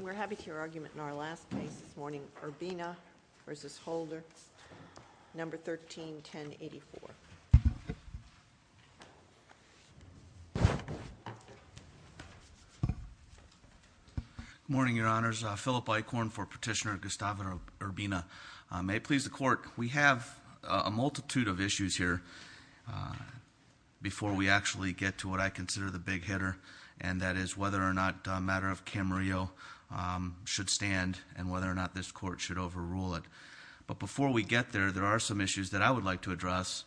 We're happy to hear your argument in our last case, this morning, Urbina v. Holder, No. 13-1084. Good morning, Your Honors. Philip Eichhorn for Petitioner Gustavo Urbina. May it please the Court, we have a multitude of issues here. Before we actually get to what I consider the big hitter, and that is whether or not a matter of Camarillo should stand and whether or not this Court should overrule it. But before we get there, there are some issues that I would like to address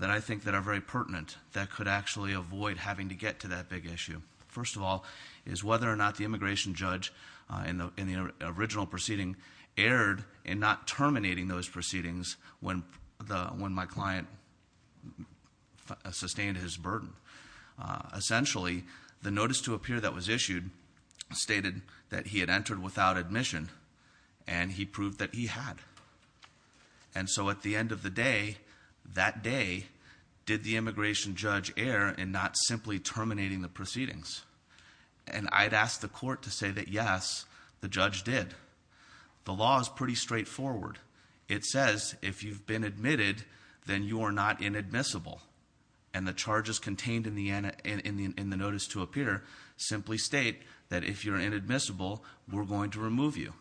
that I think that are very pertinent that could actually avoid having to get to that big issue. First of all, is whether or not the immigration judge in the original proceeding erred in not terminating those proceedings when my client sustained his burden. Essentially, the notice to appear that was issued stated that he had entered without admission, and he proved that he had. And so at the end of the day, that day, did the immigration judge err in not simply terminating the proceedings? And I'd ask the court to say that yes, the judge did. The law is pretty straightforward. It says if you've been admitted, then you are not inadmissible. And the charges contained in the notice to appear simply state that if you're inadmissible, we're going to remove you.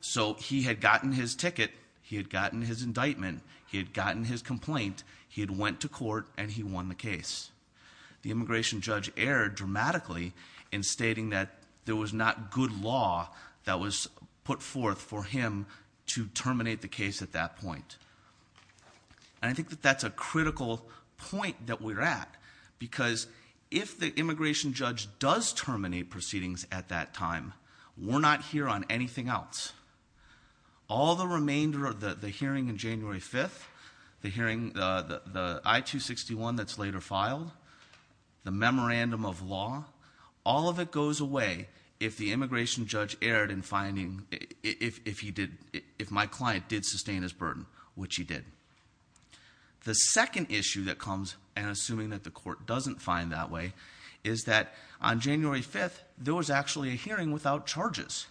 So he had gotten his ticket, he had gotten his indictment, he had gotten his complaint, he had went to court, and he won the case. The immigration judge erred dramatically in stating that there was not good law that was put forth for him to terminate the case at that point. And I think that that's a critical point that we're at, because if the immigration judge does terminate proceedings at that time, we're not here on anything else. All the remainder of the hearing in January 5th, the hearing, the I-261 that's later filed, the memorandum of law. All of it goes away if the immigration judge erred in finding, if my client did sustain his burden, which he did. The second issue that comes, and assuming that the court doesn't find that way, is that on January 5th, there was actually a hearing without charges.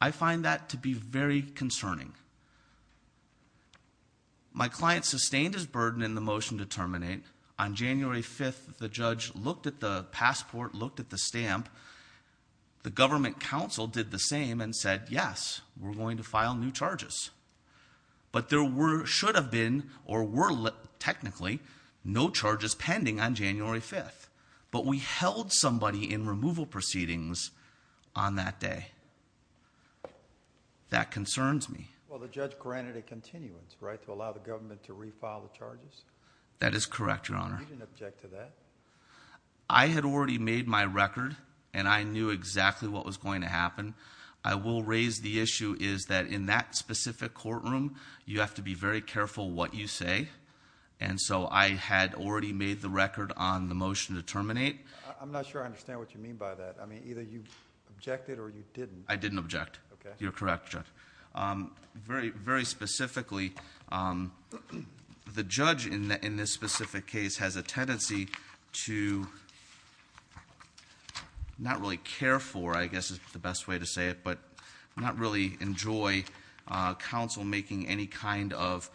I find that to be very concerning. My client sustained his burden in the motion to terminate. On January 5th, the judge looked at the passport, looked at the stamp. The government counsel did the same and said, yes, we're going to file new charges. But there should have been, or were technically, no charges pending on January 5th. But we held somebody in removal proceedings on that day. That concerns me. Well, the judge granted a continuance, right, to allow the government to refile the charges? That is correct, Your Honor. You didn't object to that? I had already made my record, and I knew exactly what was going to happen. I will raise the issue is that in that specific courtroom, you have to be very careful what you say. And so I had already made the record on the motion to terminate. I'm not sure I understand what you mean by that. I mean, either you objected or you didn't. I didn't object. You're correct, Judge. Very specifically, the judge in this specific case has a tendency to not really care for, I guess is the best way to say it, but not really enjoy counsel making any kind of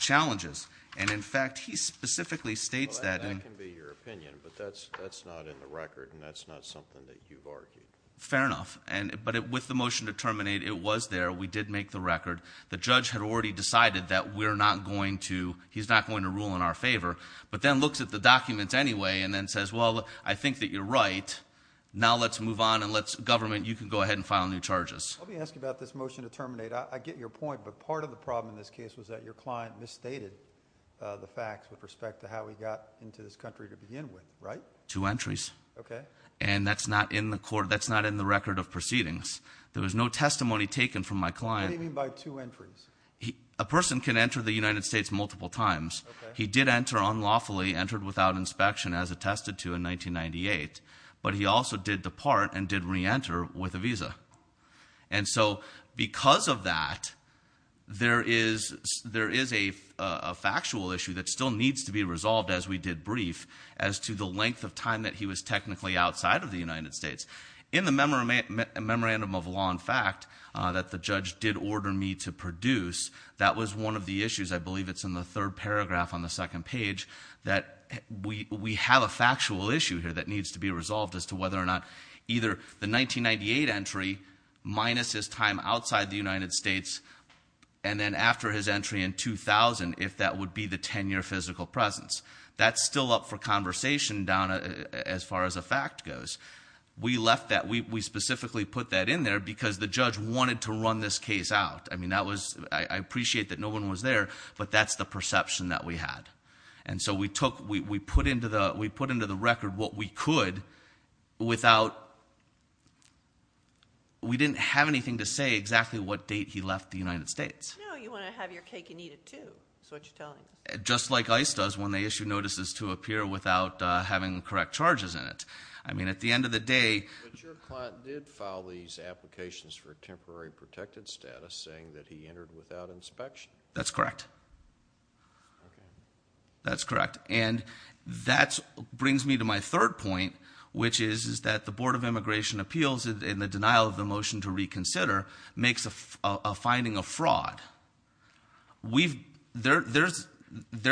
challenges. And in fact, he specifically states that- That can be your opinion, but that's not in the record, and that's not something that you've argued. Fair enough, but with the motion to terminate, it was there. We did make the record. The judge had already decided that he's not going to rule in our favor, but then looks at the documents anyway and then says, well, I think that you're right. Now let's move on and let's, government, you can go ahead and file new charges. Let me ask you about this motion to terminate. I get your point, but part of the problem in this case was that your client misstated the facts with respect to how he got into this country to begin with, right? Two entries. Okay. And that's not in the court, that's not in the record of proceedings. There was no testimony taken from my client. What do you mean by two entries? A person can enter the United States multiple times. He did enter unlawfully, entered without inspection, as attested to in 1998, but he also did depart and did re-enter with a visa. And so, because of that, there is a factual issue that still needs to be resolved, as we did brief, as to the length of time that he was technically outside of the United States. In the memorandum of law, in fact, that the judge did order me to produce, that was one of the issues, I believe it's in the third paragraph on the second page, that we have a factual issue here that needs to be resolved as to whether or not either the 1998 entry minus his time outside the United States. And then after his entry in 2000, if that would be the ten year physical presence. That's still up for conversation down as far as a fact goes. We left that, we specifically put that in there because the judge wanted to run this case out. I mean, I appreciate that no one was there, but that's the perception that we had. And so we put into the record what we could without, we didn't have anything to say exactly what date he left the United States. No, you want to have your cake and eat it too, is what you're telling me. Just like ICE does when they issue notices to appear without having correct charges in it. I mean, at the end of the day- But your client did file these applications for temporary protected status saying that he entered without inspection. That's correct. That's correct. And that brings me to my third point, which is that the Board of Immigration Appeals, in the denial of the motion to reconsider, makes a finding of fraud. There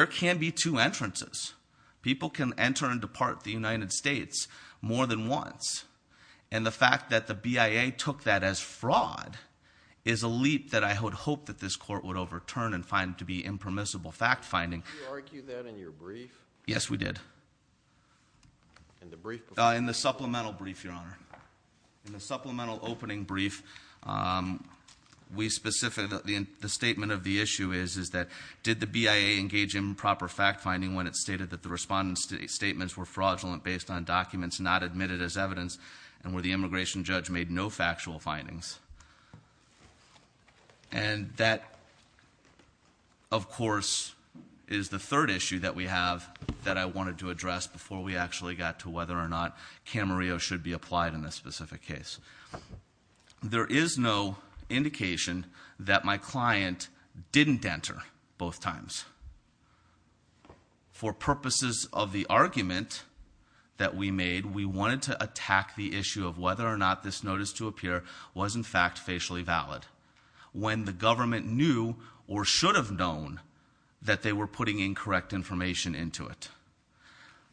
can be two entrances. People can enter and depart the United States more than once. And the fact that the BIA took that as fraud is a leap that I would hope that this court would overturn and find to be impermissible fact finding. Did you argue that in your brief? Yes, we did. In the brief? In the supplemental brief, your honor. In the supplemental opening brief, we specifically, the statement of the issue is that did the BIA engage improper fact finding when it stated that the respondents' statements were fraudulent based on documents not admitted as evidence and where the immigration judge made no factual findings. And that, of course, is the third issue that we have that I wanted to address before we actually got to whether or not Camarillo should be applied in this specific case. There is no indication that my client didn't enter both times. For purposes of the argument that we made, we wanted to attack the issue of whether or not this notice to appear was in fact facially valid when the government knew or should have known that they were putting incorrect information into it.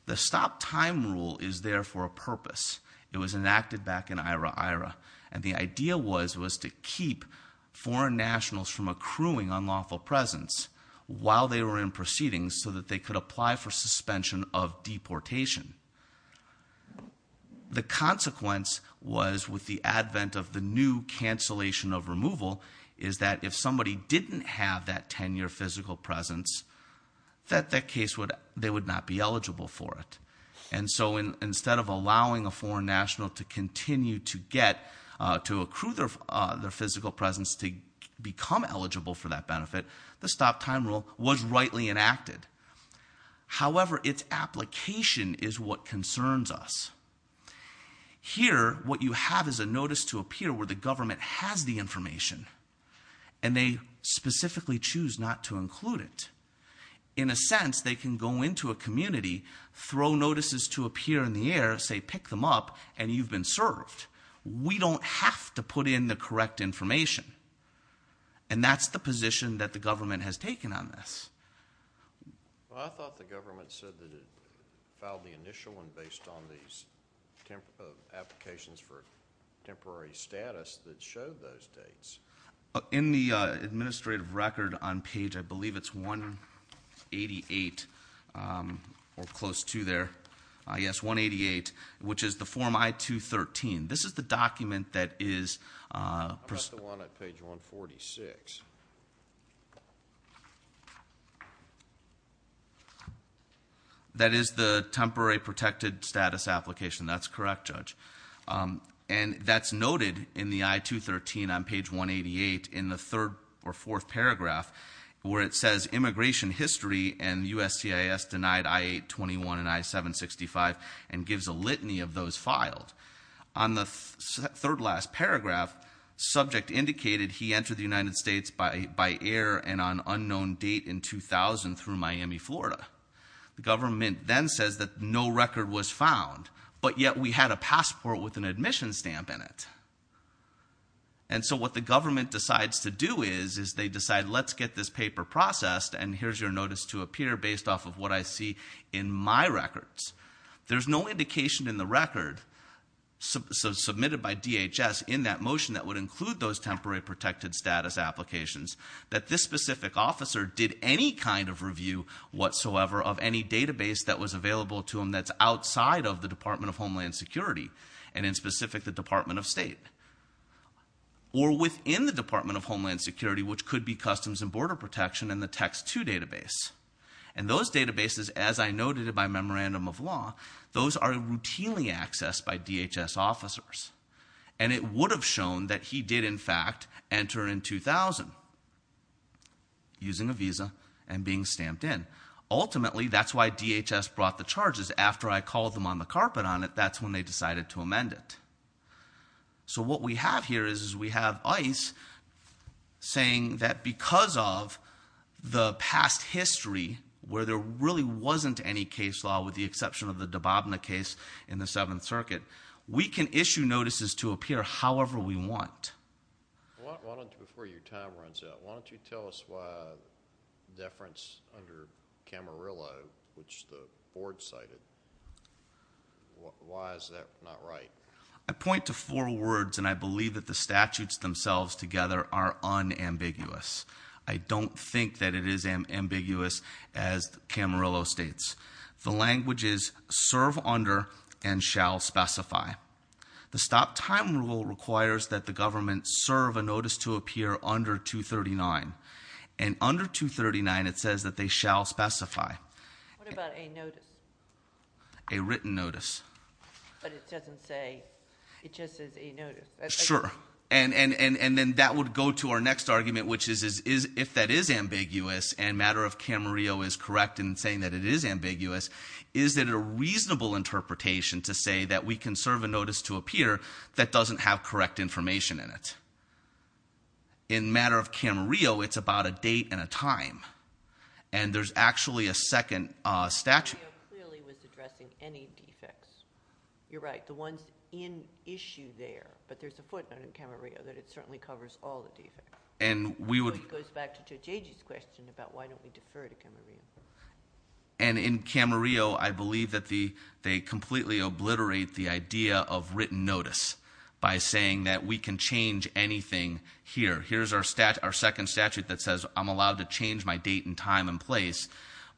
The stop time rule is there for a purpose. It was enacted back in IRA, IRA. And the idea was to keep foreign nationals from accruing unlawful presence while they were in proceedings so that they could apply for suspension of deportation. The consequence was with the advent of the new cancellation of removal, is that if somebody didn't have that 10 year physical presence, that that case would, they would not be eligible for it. And so instead of allowing a foreign national to continue to get, to accrue their physical presence to become eligible for that benefit, the stop time rule was rightly enacted. However, it's application is what concerns us. Here, what you have is a notice to appear where the government has the information, and they specifically choose not to include it. In a sense, they can go into a community, throw notices to appear in the air, say pick them up, and you've been served. We don't have to put in the correct information, and that's the position that the government has taken on this. Well, I thought the government said that it filed the initial one based on these applications for temporary status that showed those dates. In the administrative record on page, I believe it's 188, or close to there, yes, 188, which is the form I-213. This is the document that is- I'm at the one at page 146. That is the temporary protected status application. That's correct, Judge. And that's noted in the I-213 on page 188 in the third or fourth paragraph where it says immigration history and USCIS denied I-821 and I-765 and gives a litany of those filed. On the third last paragraph, subject indicated he entered the United States by air and on unknown date in 2000 through Miami, Florida. The government then says that no record was found, but yet we had a passport with an admission stamp in it. And so what the government decides to do is, is they decide let's get this paper processed and here's your notice to appear based off of what I see in my records. There's no indication in the record submitted by DHS in that motion that would include those temporary protected status applications. That this specific officer did any kind of review whatsoever of any database that was available to him that's outside of the Department of Homeland Security, and in specific the Department of State. Or within the Department of Homeland Security, which could be Customs and Border Protection in the text two database. And those databases, as I noted by memorandum of law, those are routinely accessed by DHS officers. And it would have shown that he did, in fact, enter in 2000 using a visa and being stamped in. Ultimately, that's why DHS brought the charges. After I called them on the carpet on it, that's when they decided to amend it. So what we have here is we have ICE saying that because of the past history where there really wasn't any case law with the exception of the Dababna case in the Seventh Circuit. We can issue notices to appear however we want. Why don't you, before your time runs out, why don't you tell us why deference under Camarillo, which the board cited, why is that not right? I point to four words, and I believe that the statutes themselves together are unambiguous. I don't think that it is ambiguous as Camarillo states. The language is serve under and shall specify. The stop time rule requires that the government serve a notice to appear under 239. And under 239, it says that they shall specify. What about a notice? A written notice. But it doesn't say, it just says a notice. Sure, and then that would go to our next argument, which is if that is ambiguous and matter of Camarillo is correct in saying that it is ambiguous, is that a reasonable interpretation to say that we can serve a notice to appear that doesn't have correct information in it. In matter of Camarillo, it's about a date and a time, and there's actually a second statute. Camarillo clearly was addressing any defects. You're right, the one's in issue there, but there's a footnote in Camarillo that it certainly covers all the defects. And we would- It goes back to Judge Agee's question about why don't we defer to Camarillo. And in Camarillo, I believe that they completely obliterate the idea of written notice. By saying that we can change anything here. Here's our second statute that says I'm allowed to change my date and time and place.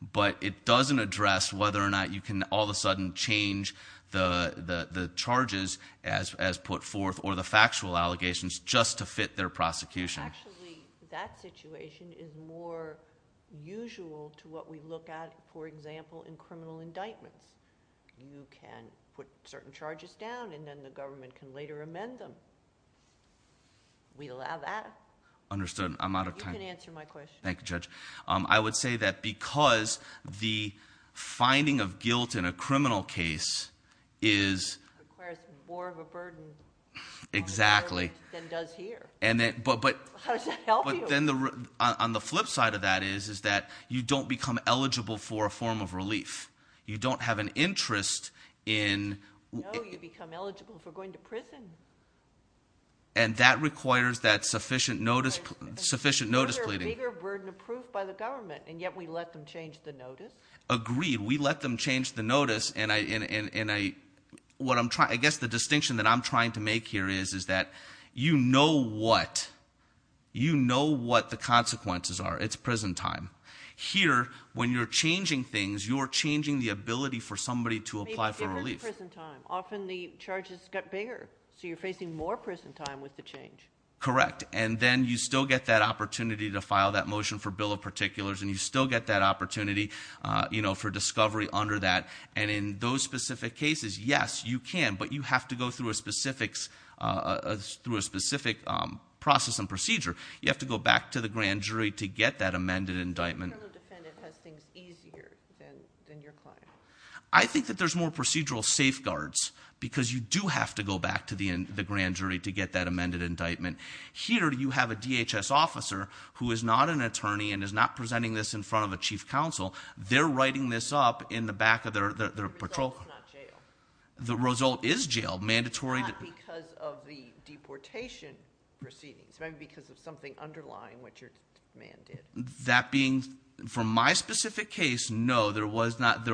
But it doesn't address whether or not you can all of a sudden change the charges as put forth or the factual allegations just to fit their prosecution. Actually, that situation is more usual to what we look at, for example, in criminal indictments. You can put certain charges down and then the government can later amend them. We allow that. Understood. I'm out of time. You can answer my question. Thank you, Judge. I would say that because the finding of guilt in a criminal case is- Requires more of a burden. Exactly. Than does here. And then, but- How does that help you? On the flip side of that is, is that you don't become eligible for a form of relief. You don't have an interest in- No, you become eligible for going to prison. And that requires that sufficient notice pleading. You're a bigger burden of proof by the government, and yet we let them change the notice. Agreed, we let them change the notice. And I guess the distinction that I'm trying to make here is, is that you know what. You know what the consequences are. It's prison time. Here, when you're changing things, you're changing the ability for somebody to apply for relief. You're facing prison time. Often the charges get bigger, so you're facing more prison time with the change. Correct, and then you still get that opportunity to file that motion for bill of particulars. And you still get that opportunity for discovery under that. And in those specific cases, yes, you can. But you have to go through a specific process and procedure. You have to go back to the grand jury to get that amended indictment. The criminal defendant has things easier than your client. I think that there's more procedural safeguards because you do have to go back to the grand jury to get that amended indictment. Here you have a DHS officer who is not an attorney and is not presenting this in front of a chief counsel. They're writing this up in the back of their patrol- The result is not jail. The result is jail, mandatory- Not because of the deportation proceedings, maybe because of something underlying what your man did. That being, for my specific case, no, there was not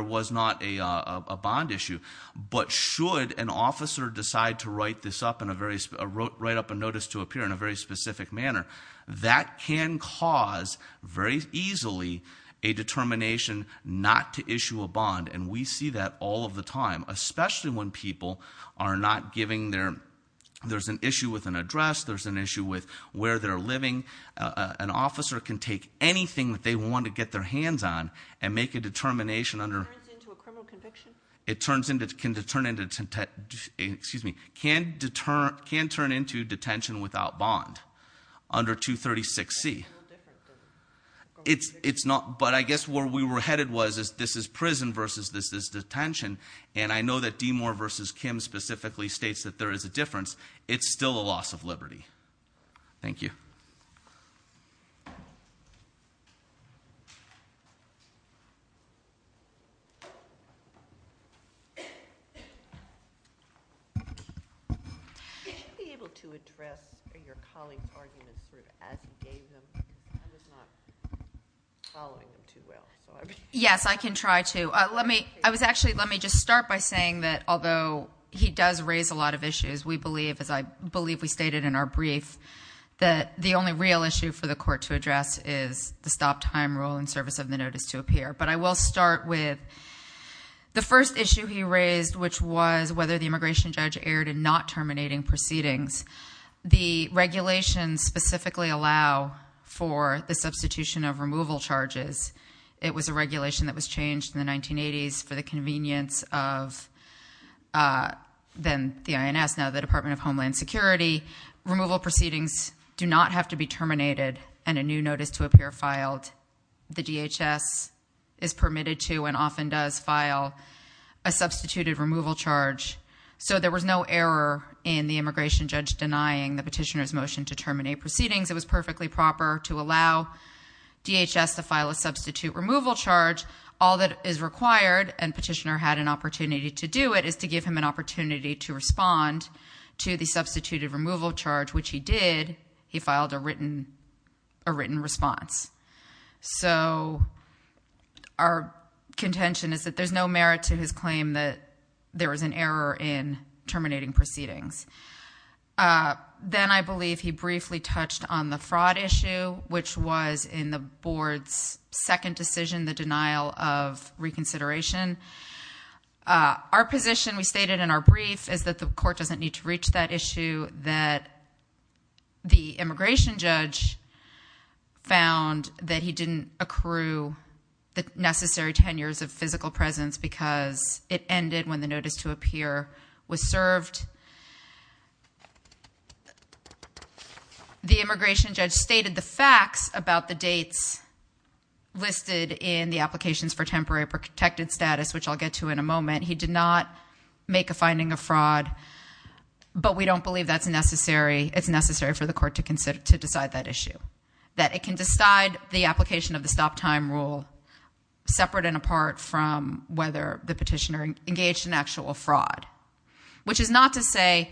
a bond issue. But should an officer decide to write up a notice to appear in a very specific manner, that can cause, very easily, a determination not to issue a bond. And we see that all of the time, especially when people are not giving their, there's an issue with an address, there's an issue with where they're living, an officer can take anything that they want to get their hands on and make a determination under- It turns into a criminal conviction? It can turn into detention without bond under 236C. It's not, but I guess where we were headed was, is this is prison versus this is detention. And I know that DeMore versus Kim specifically states that there is a difference. It's still a loss of liberty, thank you. Could you be able to address your colleague's arguments as you gave them? I was not following them too well. Yes, I can try to. Let me, I was actually, let me just start by saying that although he does raise a lot of issues, we believe, as I believe we stated in our brief, that the only real issue for the court to address is the stop time rule in service of the notice to appear. But I will start with the first issue he raised, which was whether the immigration judge erred in not terminating proceedings. The regulations specifically allow for the substitution of removal charges. It was a regulation that was changed in the 1980s for the convenience of then the INS, now the Department of Homeland Security, removal proceedings do not have to be terminated and a new notice to appear filed, the DHS is permitted to and often does file a substituted removal charge. So there was no error in the immigration judge denying the petitioner's motion to terminate proceedings. It was perfectly proper to allow DHS to file a substitute removal charge. All that is required, and petitioner had an opportunity to do it, is to give him an opportunity to respond to the substituted removal charge, which he did. He filed a written response. So our contention is that there's no merit to his claim that there was an error in terminating proceedings. Then I believe he briefly touched on the fraud issue, which was in the board's second decision, the denial of reconsideration. Our position, we stated in our brief, is that the court doesn't need to reach that issue, that the immigration judge found that he didn't accrue the necessary tenures of physical presence because it ended when the notice to appear was served. The immigration judge stated the facts about the dates listed in the applications for temporary protected status, which I'll get to in a moment, he did not make a finding of fraud. But we don't believe it's necessary for the court to decide that issue. That it can decide the application of the stop time rule separate and apart from whether the petitioner engaged in actual fraud. Which is not to say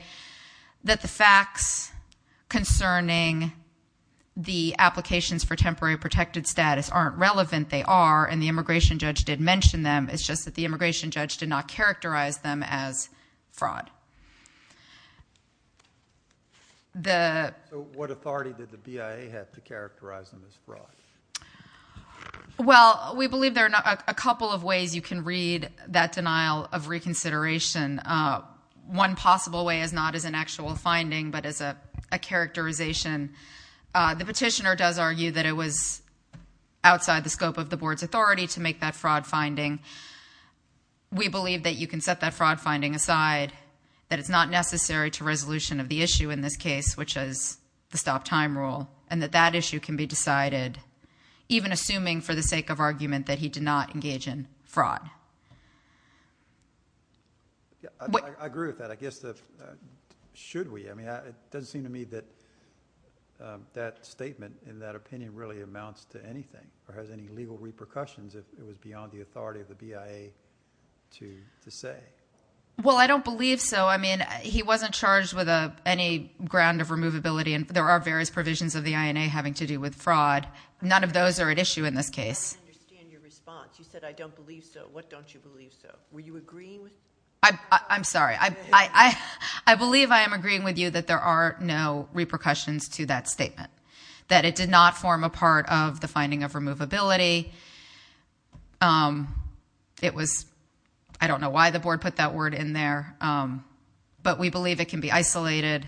that the facts concerning the applications for temporary protected status aren't relevant, they are, and the immigration judge did mention them. It's just that the immigration judge did not characterize them as fraud. The- So what authority did the BIA have to characterize them as fraud? Well, we believe there are a couple of ways you can read that denial of reconsideration. One possible way is not as an actual finding, but as a characterization. The petitioner does argue that it was outside the scope of the board's authority to make that fraud finding. We believe that you can set that fraud finding aside, that it's not necessary to resolution of the issue in this case, which is the stop time rule, and that that issue can be decided. Even assuming for the sake of argument that he did not engage in fraud. I agree with that, I guess the, should we? I mean, it doesn't seem to me that that statement and that opinion really amounts to anything, or has any legal repercussions if it was beyond the authority of the BIA to say. Well, I don't believe so. I mean, he wasn't charged with any ground of removability, and there are various provisions of the INA having to do with fraud. None of those are at issue in this case. I don't understand your response. You said I don't believe so. What don't you believe so? Were you agreeing with me? I'm sorry, I believe I am agreeing with you that there are no repercussions to that statement. That it did not form a part of the finding of removability. It was, I don't know why the board put that word in there, but we believe it can be isolated.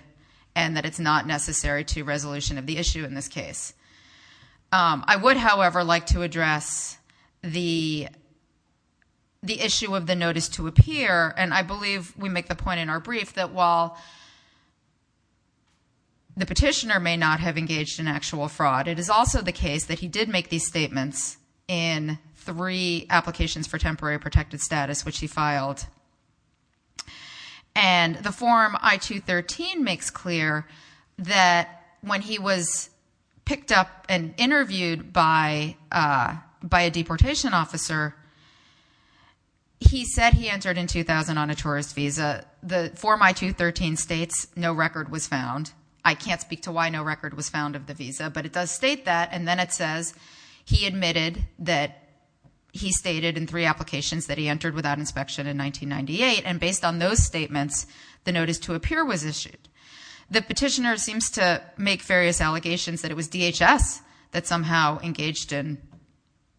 And that it's not necessary to resolution of the issue in this case. I would, however, like to address the issue of the notice to appear. And I believe we make the point in our brief that while the petitioner may not have engaged in actual fraud, it is also the case that he did make these statements in three applications for temporary protected status, which he filed. And the form I-213 makes clear that when he was picked up and interviewed by a deportation officer, he said he entered in 2000 on a tourist visa. The form I-213 states no record was found. I can't speak to why no record was found of the visa, but it does state that. And then it says he admitted that he stated in three applications that he entered without inspection in 1998. And based on those statements, the notice to appear was issued. The petitioner seems to make various allegations that it was DHS that somehow engaged in,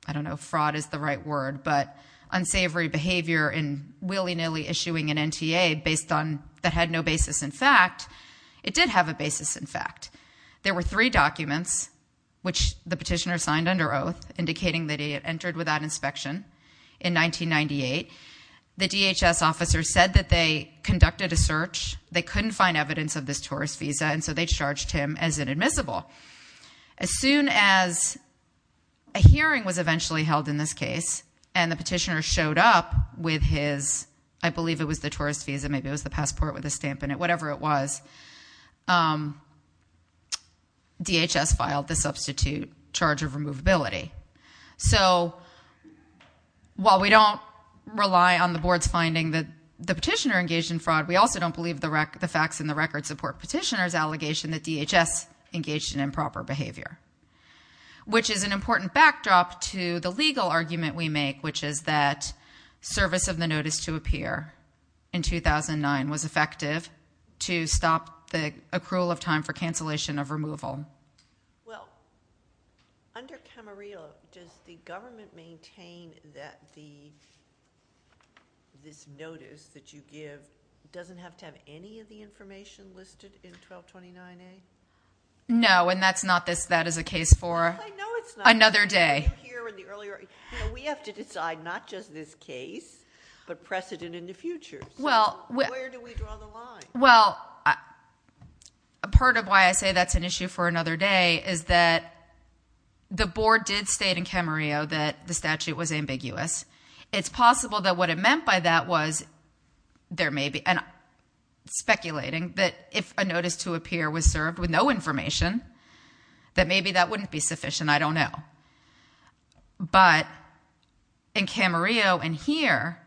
I don't know if fraud is the right word, but unsavory behavior in willy nilly issuing an NTA based on, that had no basis in fact. It did have a basis in fact. There were three documents, which the petitioner signed under oath, indicating that he had entered without inspection in 1998. The DHS officer said that they conducted a search, they couldn't find evidence of this tourist visa, and so they charged him as inadmissible. As soon as a hearing was eventually held in this case, and the petitioner showed up with his, I believe it was the tourist visa, maybe it was the passport with a stamp in it, whatever it was. DHS filed the substitute charge of removability. So while we don't rely on the board's finding that the petitioner engaged in fraud, we also don't believe the facts in the record support petitioner's allegation that DHS engaged in improper behavior. Which is an important backdrop to the legal argument we make, which is that service of the notice to appear in 2009 was effective to stop the accrual of time for cancellation of removal. Well, under Camarillo, does the government maintain that this notice that you give doesn't have to have any of the information listed in 1229A? No, and that's not this, that is a case for- I know it's not. Another day. You hear in the earlier, we have to decide not just this case, but precedent in the future. So where do we draw the line? Well, a part of why I say that's an issue for another day is that the board did state in Camarillo that the statute was ambiguous. It's possible that what it meant by that was there may be, and speculating that if a notice to appear was served with no information, that maybe that wouldn't be sufficient, I don't know. But in Camarillo and here,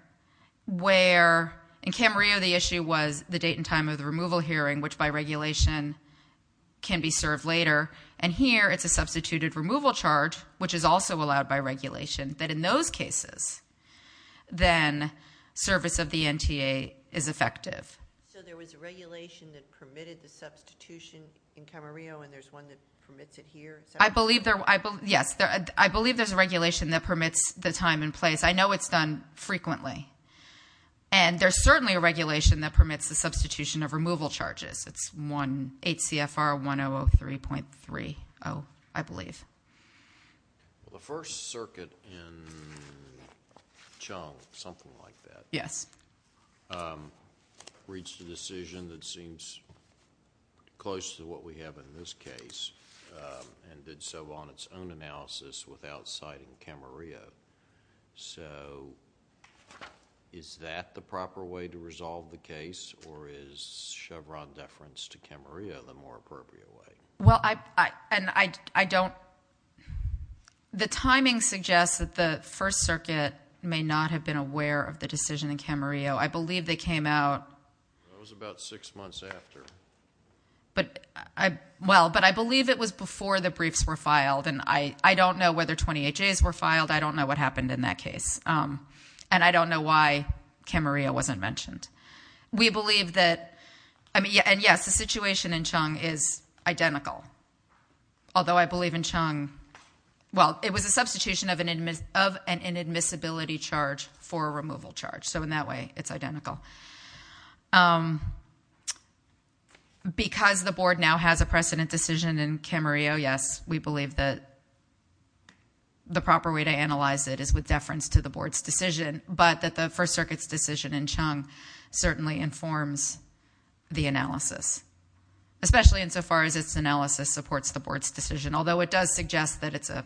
where in Camarillo the issue was the date and time of the removal hearing, which by regulation can be served later. And here, it's a substituted removal charge, which is also allowed by regulation. That in those cases, then service of the NTA is effective. So there was a regulation that permitted the substitution in Camarillo, and there's one that permits it here? I believe there, yes, I believe there's a regulation that permits the time and place. I know it's done frequently, and there's certainly a regulation that permits the substitution of removal charges. It's 1HCFR 1003.30, I believe. The first circuit in Chung, something like that. Yes. Reached a decision that seems close to what we have in this case, and did so on its own analysis without citing Camarillo. So is that the proper way to resolve the case, or is Chevron deference to Camarillo the more appropriate way? Well, I don't, the timing suggests that the first circuit may not have been aware of the decision in Camarillo. I believe they came out. That was about six months after. But I, well, but I believe it was before the briefs were filed, and I don't know whether 28 days were filed. I don't know what happened in that case, and I don't know why Camarillo wasn't mentioned. We believe that, and yes, the situation in Chung is identical. Although I believe in Chung, well, it was a substitution of an inadmissibility charge for a removal charge. So in that way, it's identical. Because the board now has a precedent decision in Camarillo, yes, we believe that the proper way to analyze it is with deference to the board's decision. But that the first circuit's decision in Chung certainly informs the analysis. Especially insofar as its analysis supports the board's decision. Although it does suggest that it's a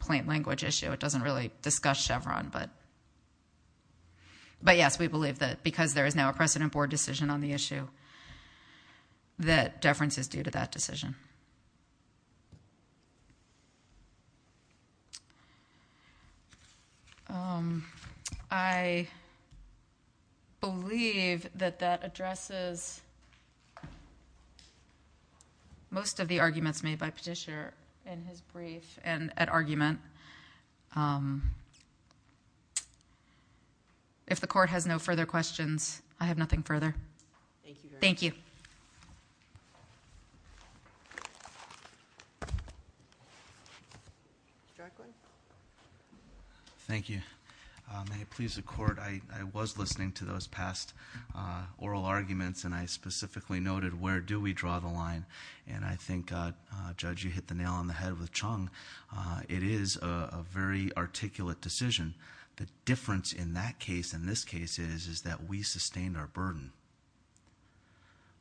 plain language issue. So it doesn't really discuss Chevron. But yes, we believe that because there is now a precedent board decision on the issue, that deference is due to that decision. I believe that that addresses most of the arguments made by Petitioner in his brief and at argument. If the court has no further questions, I have nothing further. Thank you. Thank you. Directly. Thank you. May it please the court, I was listening to those past oral arguments. And I specifically noted, where do we draw the line? And I think, Judge, you hit the nail on the head with Chung. It is a very articulate decision. The difference in that case and this case is, is that we sustained our burden.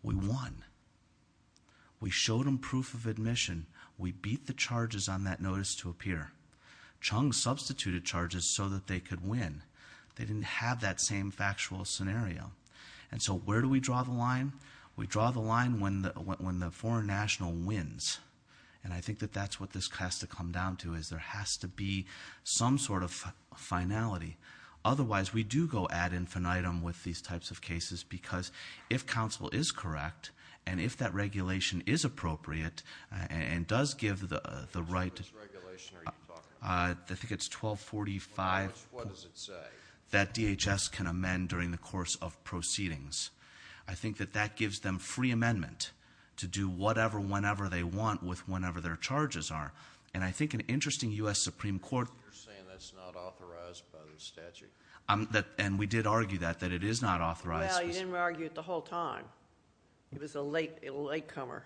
We won. We showed them proof of admission. We beat the charges on that notice to appear. Chung substituted charges so that they could win. They didn't have that same factual scenario. And so, where do we draw the line? We draw the line when the foreign national wins. And I think that that's what this has to come down to, is there has to be some sort of finality. Otherwise, we do go ad infinitum with these types of cases, because if counsel is correct, and if that regulation is appropriate, and does give the right- What's the regulation, are you talking about? I think it's 1245. What does it say? That DHS can amend during the course of proceedings. I think that that gives them free amendment to do whatever, whenever they want with whenever their charges are. And I think an interesting US Supreme Court- You're saying that's not authorized by the statute. And we did argue that, that it is not authorized. Well, you didn't argue it the whole time. It was a latecomer.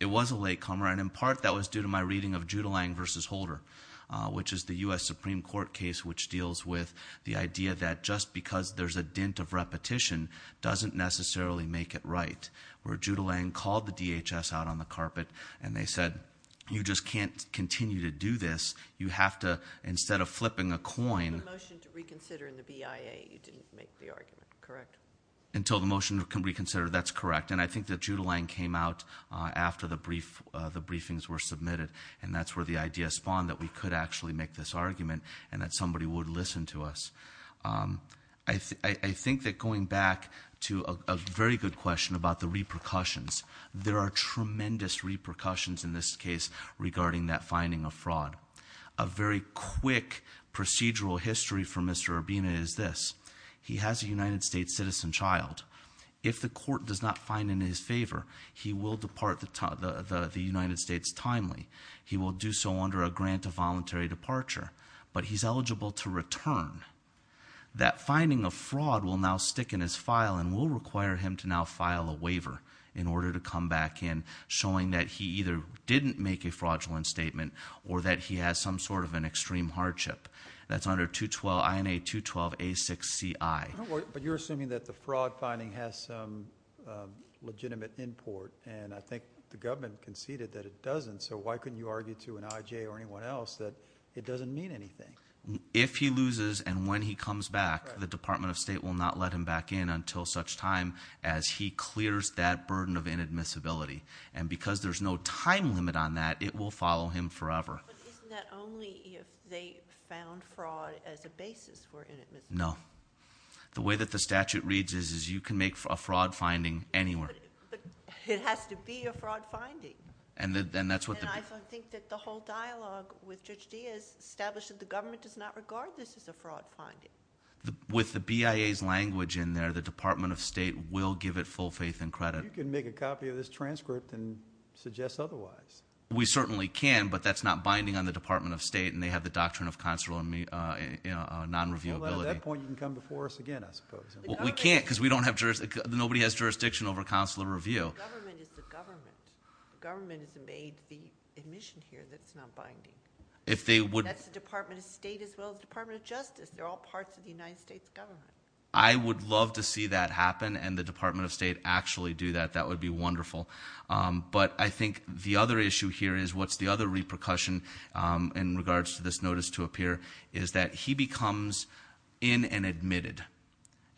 It was a latecomer, and in part that was due to my reading of Judelang versus Holder, which is the US Supreme Court case which deals with the idea that just because there's a dent of repetition, doesn't necessarily make it right. Where Judelang called the DHS out on the carpet, and they said, you just can't continue to do this. You have to, instead of flipping a coin- You have a motion to reconsider in the BIA, you didn't make the argument, correct? Until the motion can reconsider, that's correct. And I think that Judelang came out after the briefings were submitted. And that's where the idea spawned that we could actually make this argument, and that somebody would listen to us. I think that going back to a very good question about the repercussions. There are tremendous repercussions in this case regarding that finding of fraud. A very quick procedural history for Mr. Urbina is this. He has a United States citizen child. If the court does not find in his favor, he will depart the United States timely. He will do so under a grant of voluntary departure, but he's eligible to return. That finding of fraud will now stick in his file and will require him to now file a waiver in order to come back in, showing that he either didn't make a fraudulent statement or that he has some sort of an extreme hardship. That's under 212, INA 212A6CI. But you're assuming that the fraud finding has some legitimate import, and I think the government conceded that it doesn't. So why couldn't you argue to an IJ or anyone else that it doesn't mean anything? If he loses and when he comes back, the Department of State will not let him back in until such time as he clears that burden of inadmissibility. And because there's no time limit on that, it will follow him forever. But isn't that only if they found fraud as a basis for inadmissibility? No. The way that the statute reads is, is you can make a fraud finding anywhere. But it has to be a fraud finding. And I think that the whole dialogue with Judge Diaz established that the government does not regard this as a fraud finding. With the BIA's language in there, the Department of State will give it full faith and credit. You can make a copy of this transcript and suggest otherwise. We certainly can, but that's not binding on the Department of State, and they have the doctrine of consular non-reviewability. At that point, you can come before us again, I suppose. We can't, because nobody has jurisdiction over consular review. The government is the government. Government has made the admission here that's not binding. That's the Department of State as well as the Department of Justice. They're all parts of the United States government. I would love to see that happen, and the Department of State actually do that. That would be wonderful. But I think the other issue here is, what's the other repercussion in regards to this notice to appear, is that he becomes in and admitted.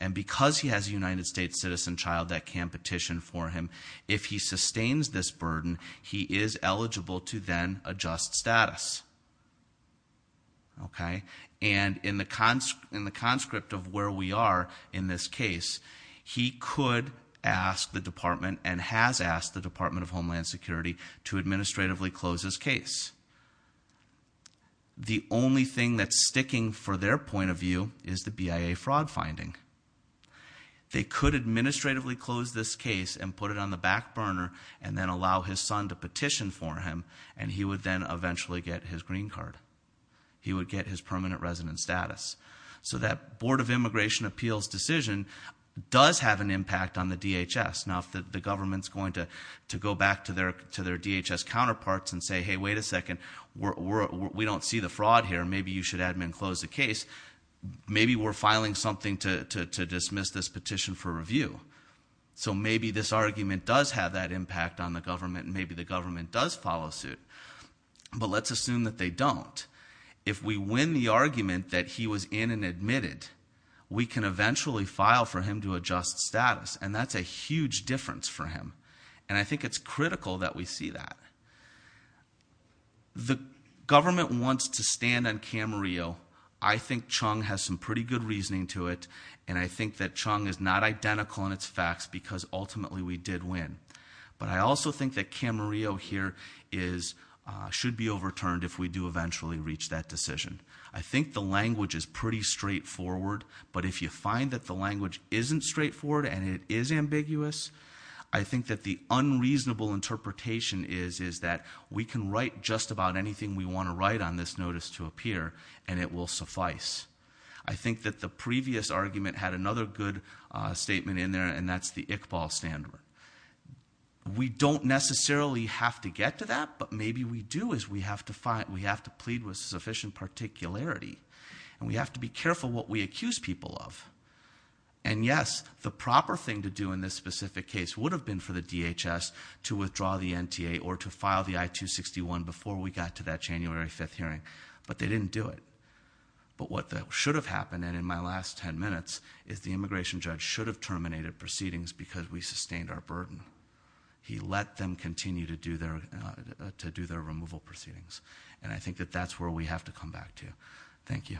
And because he has a United States citizen child that can petition for him, if he sustains this burden, he is eligible to then adjust status. Okay, and in the conscript of where we are in this case, he could ask the department and has asked the Department of Homeland Security to administratively close his case. The only thing that's sticking for their point of view is the BIA fraud finding. They could administratively close this case and put it on the back burner and then allow his son to petition for him, and he would then eventually get his green card. He would get his permanent resident status. So that Board of Immigration Appeals decision does have an impact on the DHS. Now if the government's going to go back to their DHS counterparts and say, hey, wait a second. We don't see the fraud here, maybe you should admin close the case. Maybe we're filing something to dismiss this petition for review. So maybe this argument does have that impact on the government, and maybe the government does follow suit. But let's assume that they don't. If we win the argument that he was in and admitted, we can eventually file for him to adjust status. And that's a huge difference for him. And I think it's critical that we see that. The government wants to stand on Camarillo. I think Chung has some pretty good reasoning to it. And I think that Chung is not identical in its facts because ultimately we did win. But I also think that Camarillo here should be overturned if we do eventually reach that decision. I think the language is pretty straightforward. But if you find that the language isn't straightforward and it is ambiguous, I think that the unreasonable interpretation is that we can write just about anything we want to write on this notice to appear. And it will suffice. I think that the previous argument had another good statement in there, and that's the Iqbal standard. We don't necessarily have to get to that, but maybe we do as we have to plead with sufficient particularity. And we have to be careful what we accuse people of. And yes, the proper thing to do in this specific case would have been for the DHS to withdraw the NTA or to file the I-261 before we got to that January 5th hearing. But they didn't do it. But what should have happened, and in my last ten minutes, is the immigration judge should have terminated proceedings because we sustained our burden. He let them continue to do their removal proceedings. And I think that that's where we have to come back to. Thank you.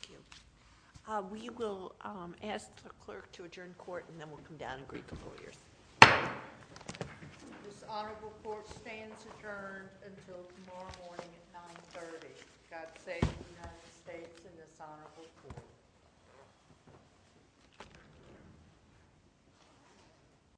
Thank you. We will ask the clerk to adjourn court, and then we'll come down and greet the lawyers. This honorable court stands adjourned until tomorrow morning at 9.30. God save the United States and this honorable court.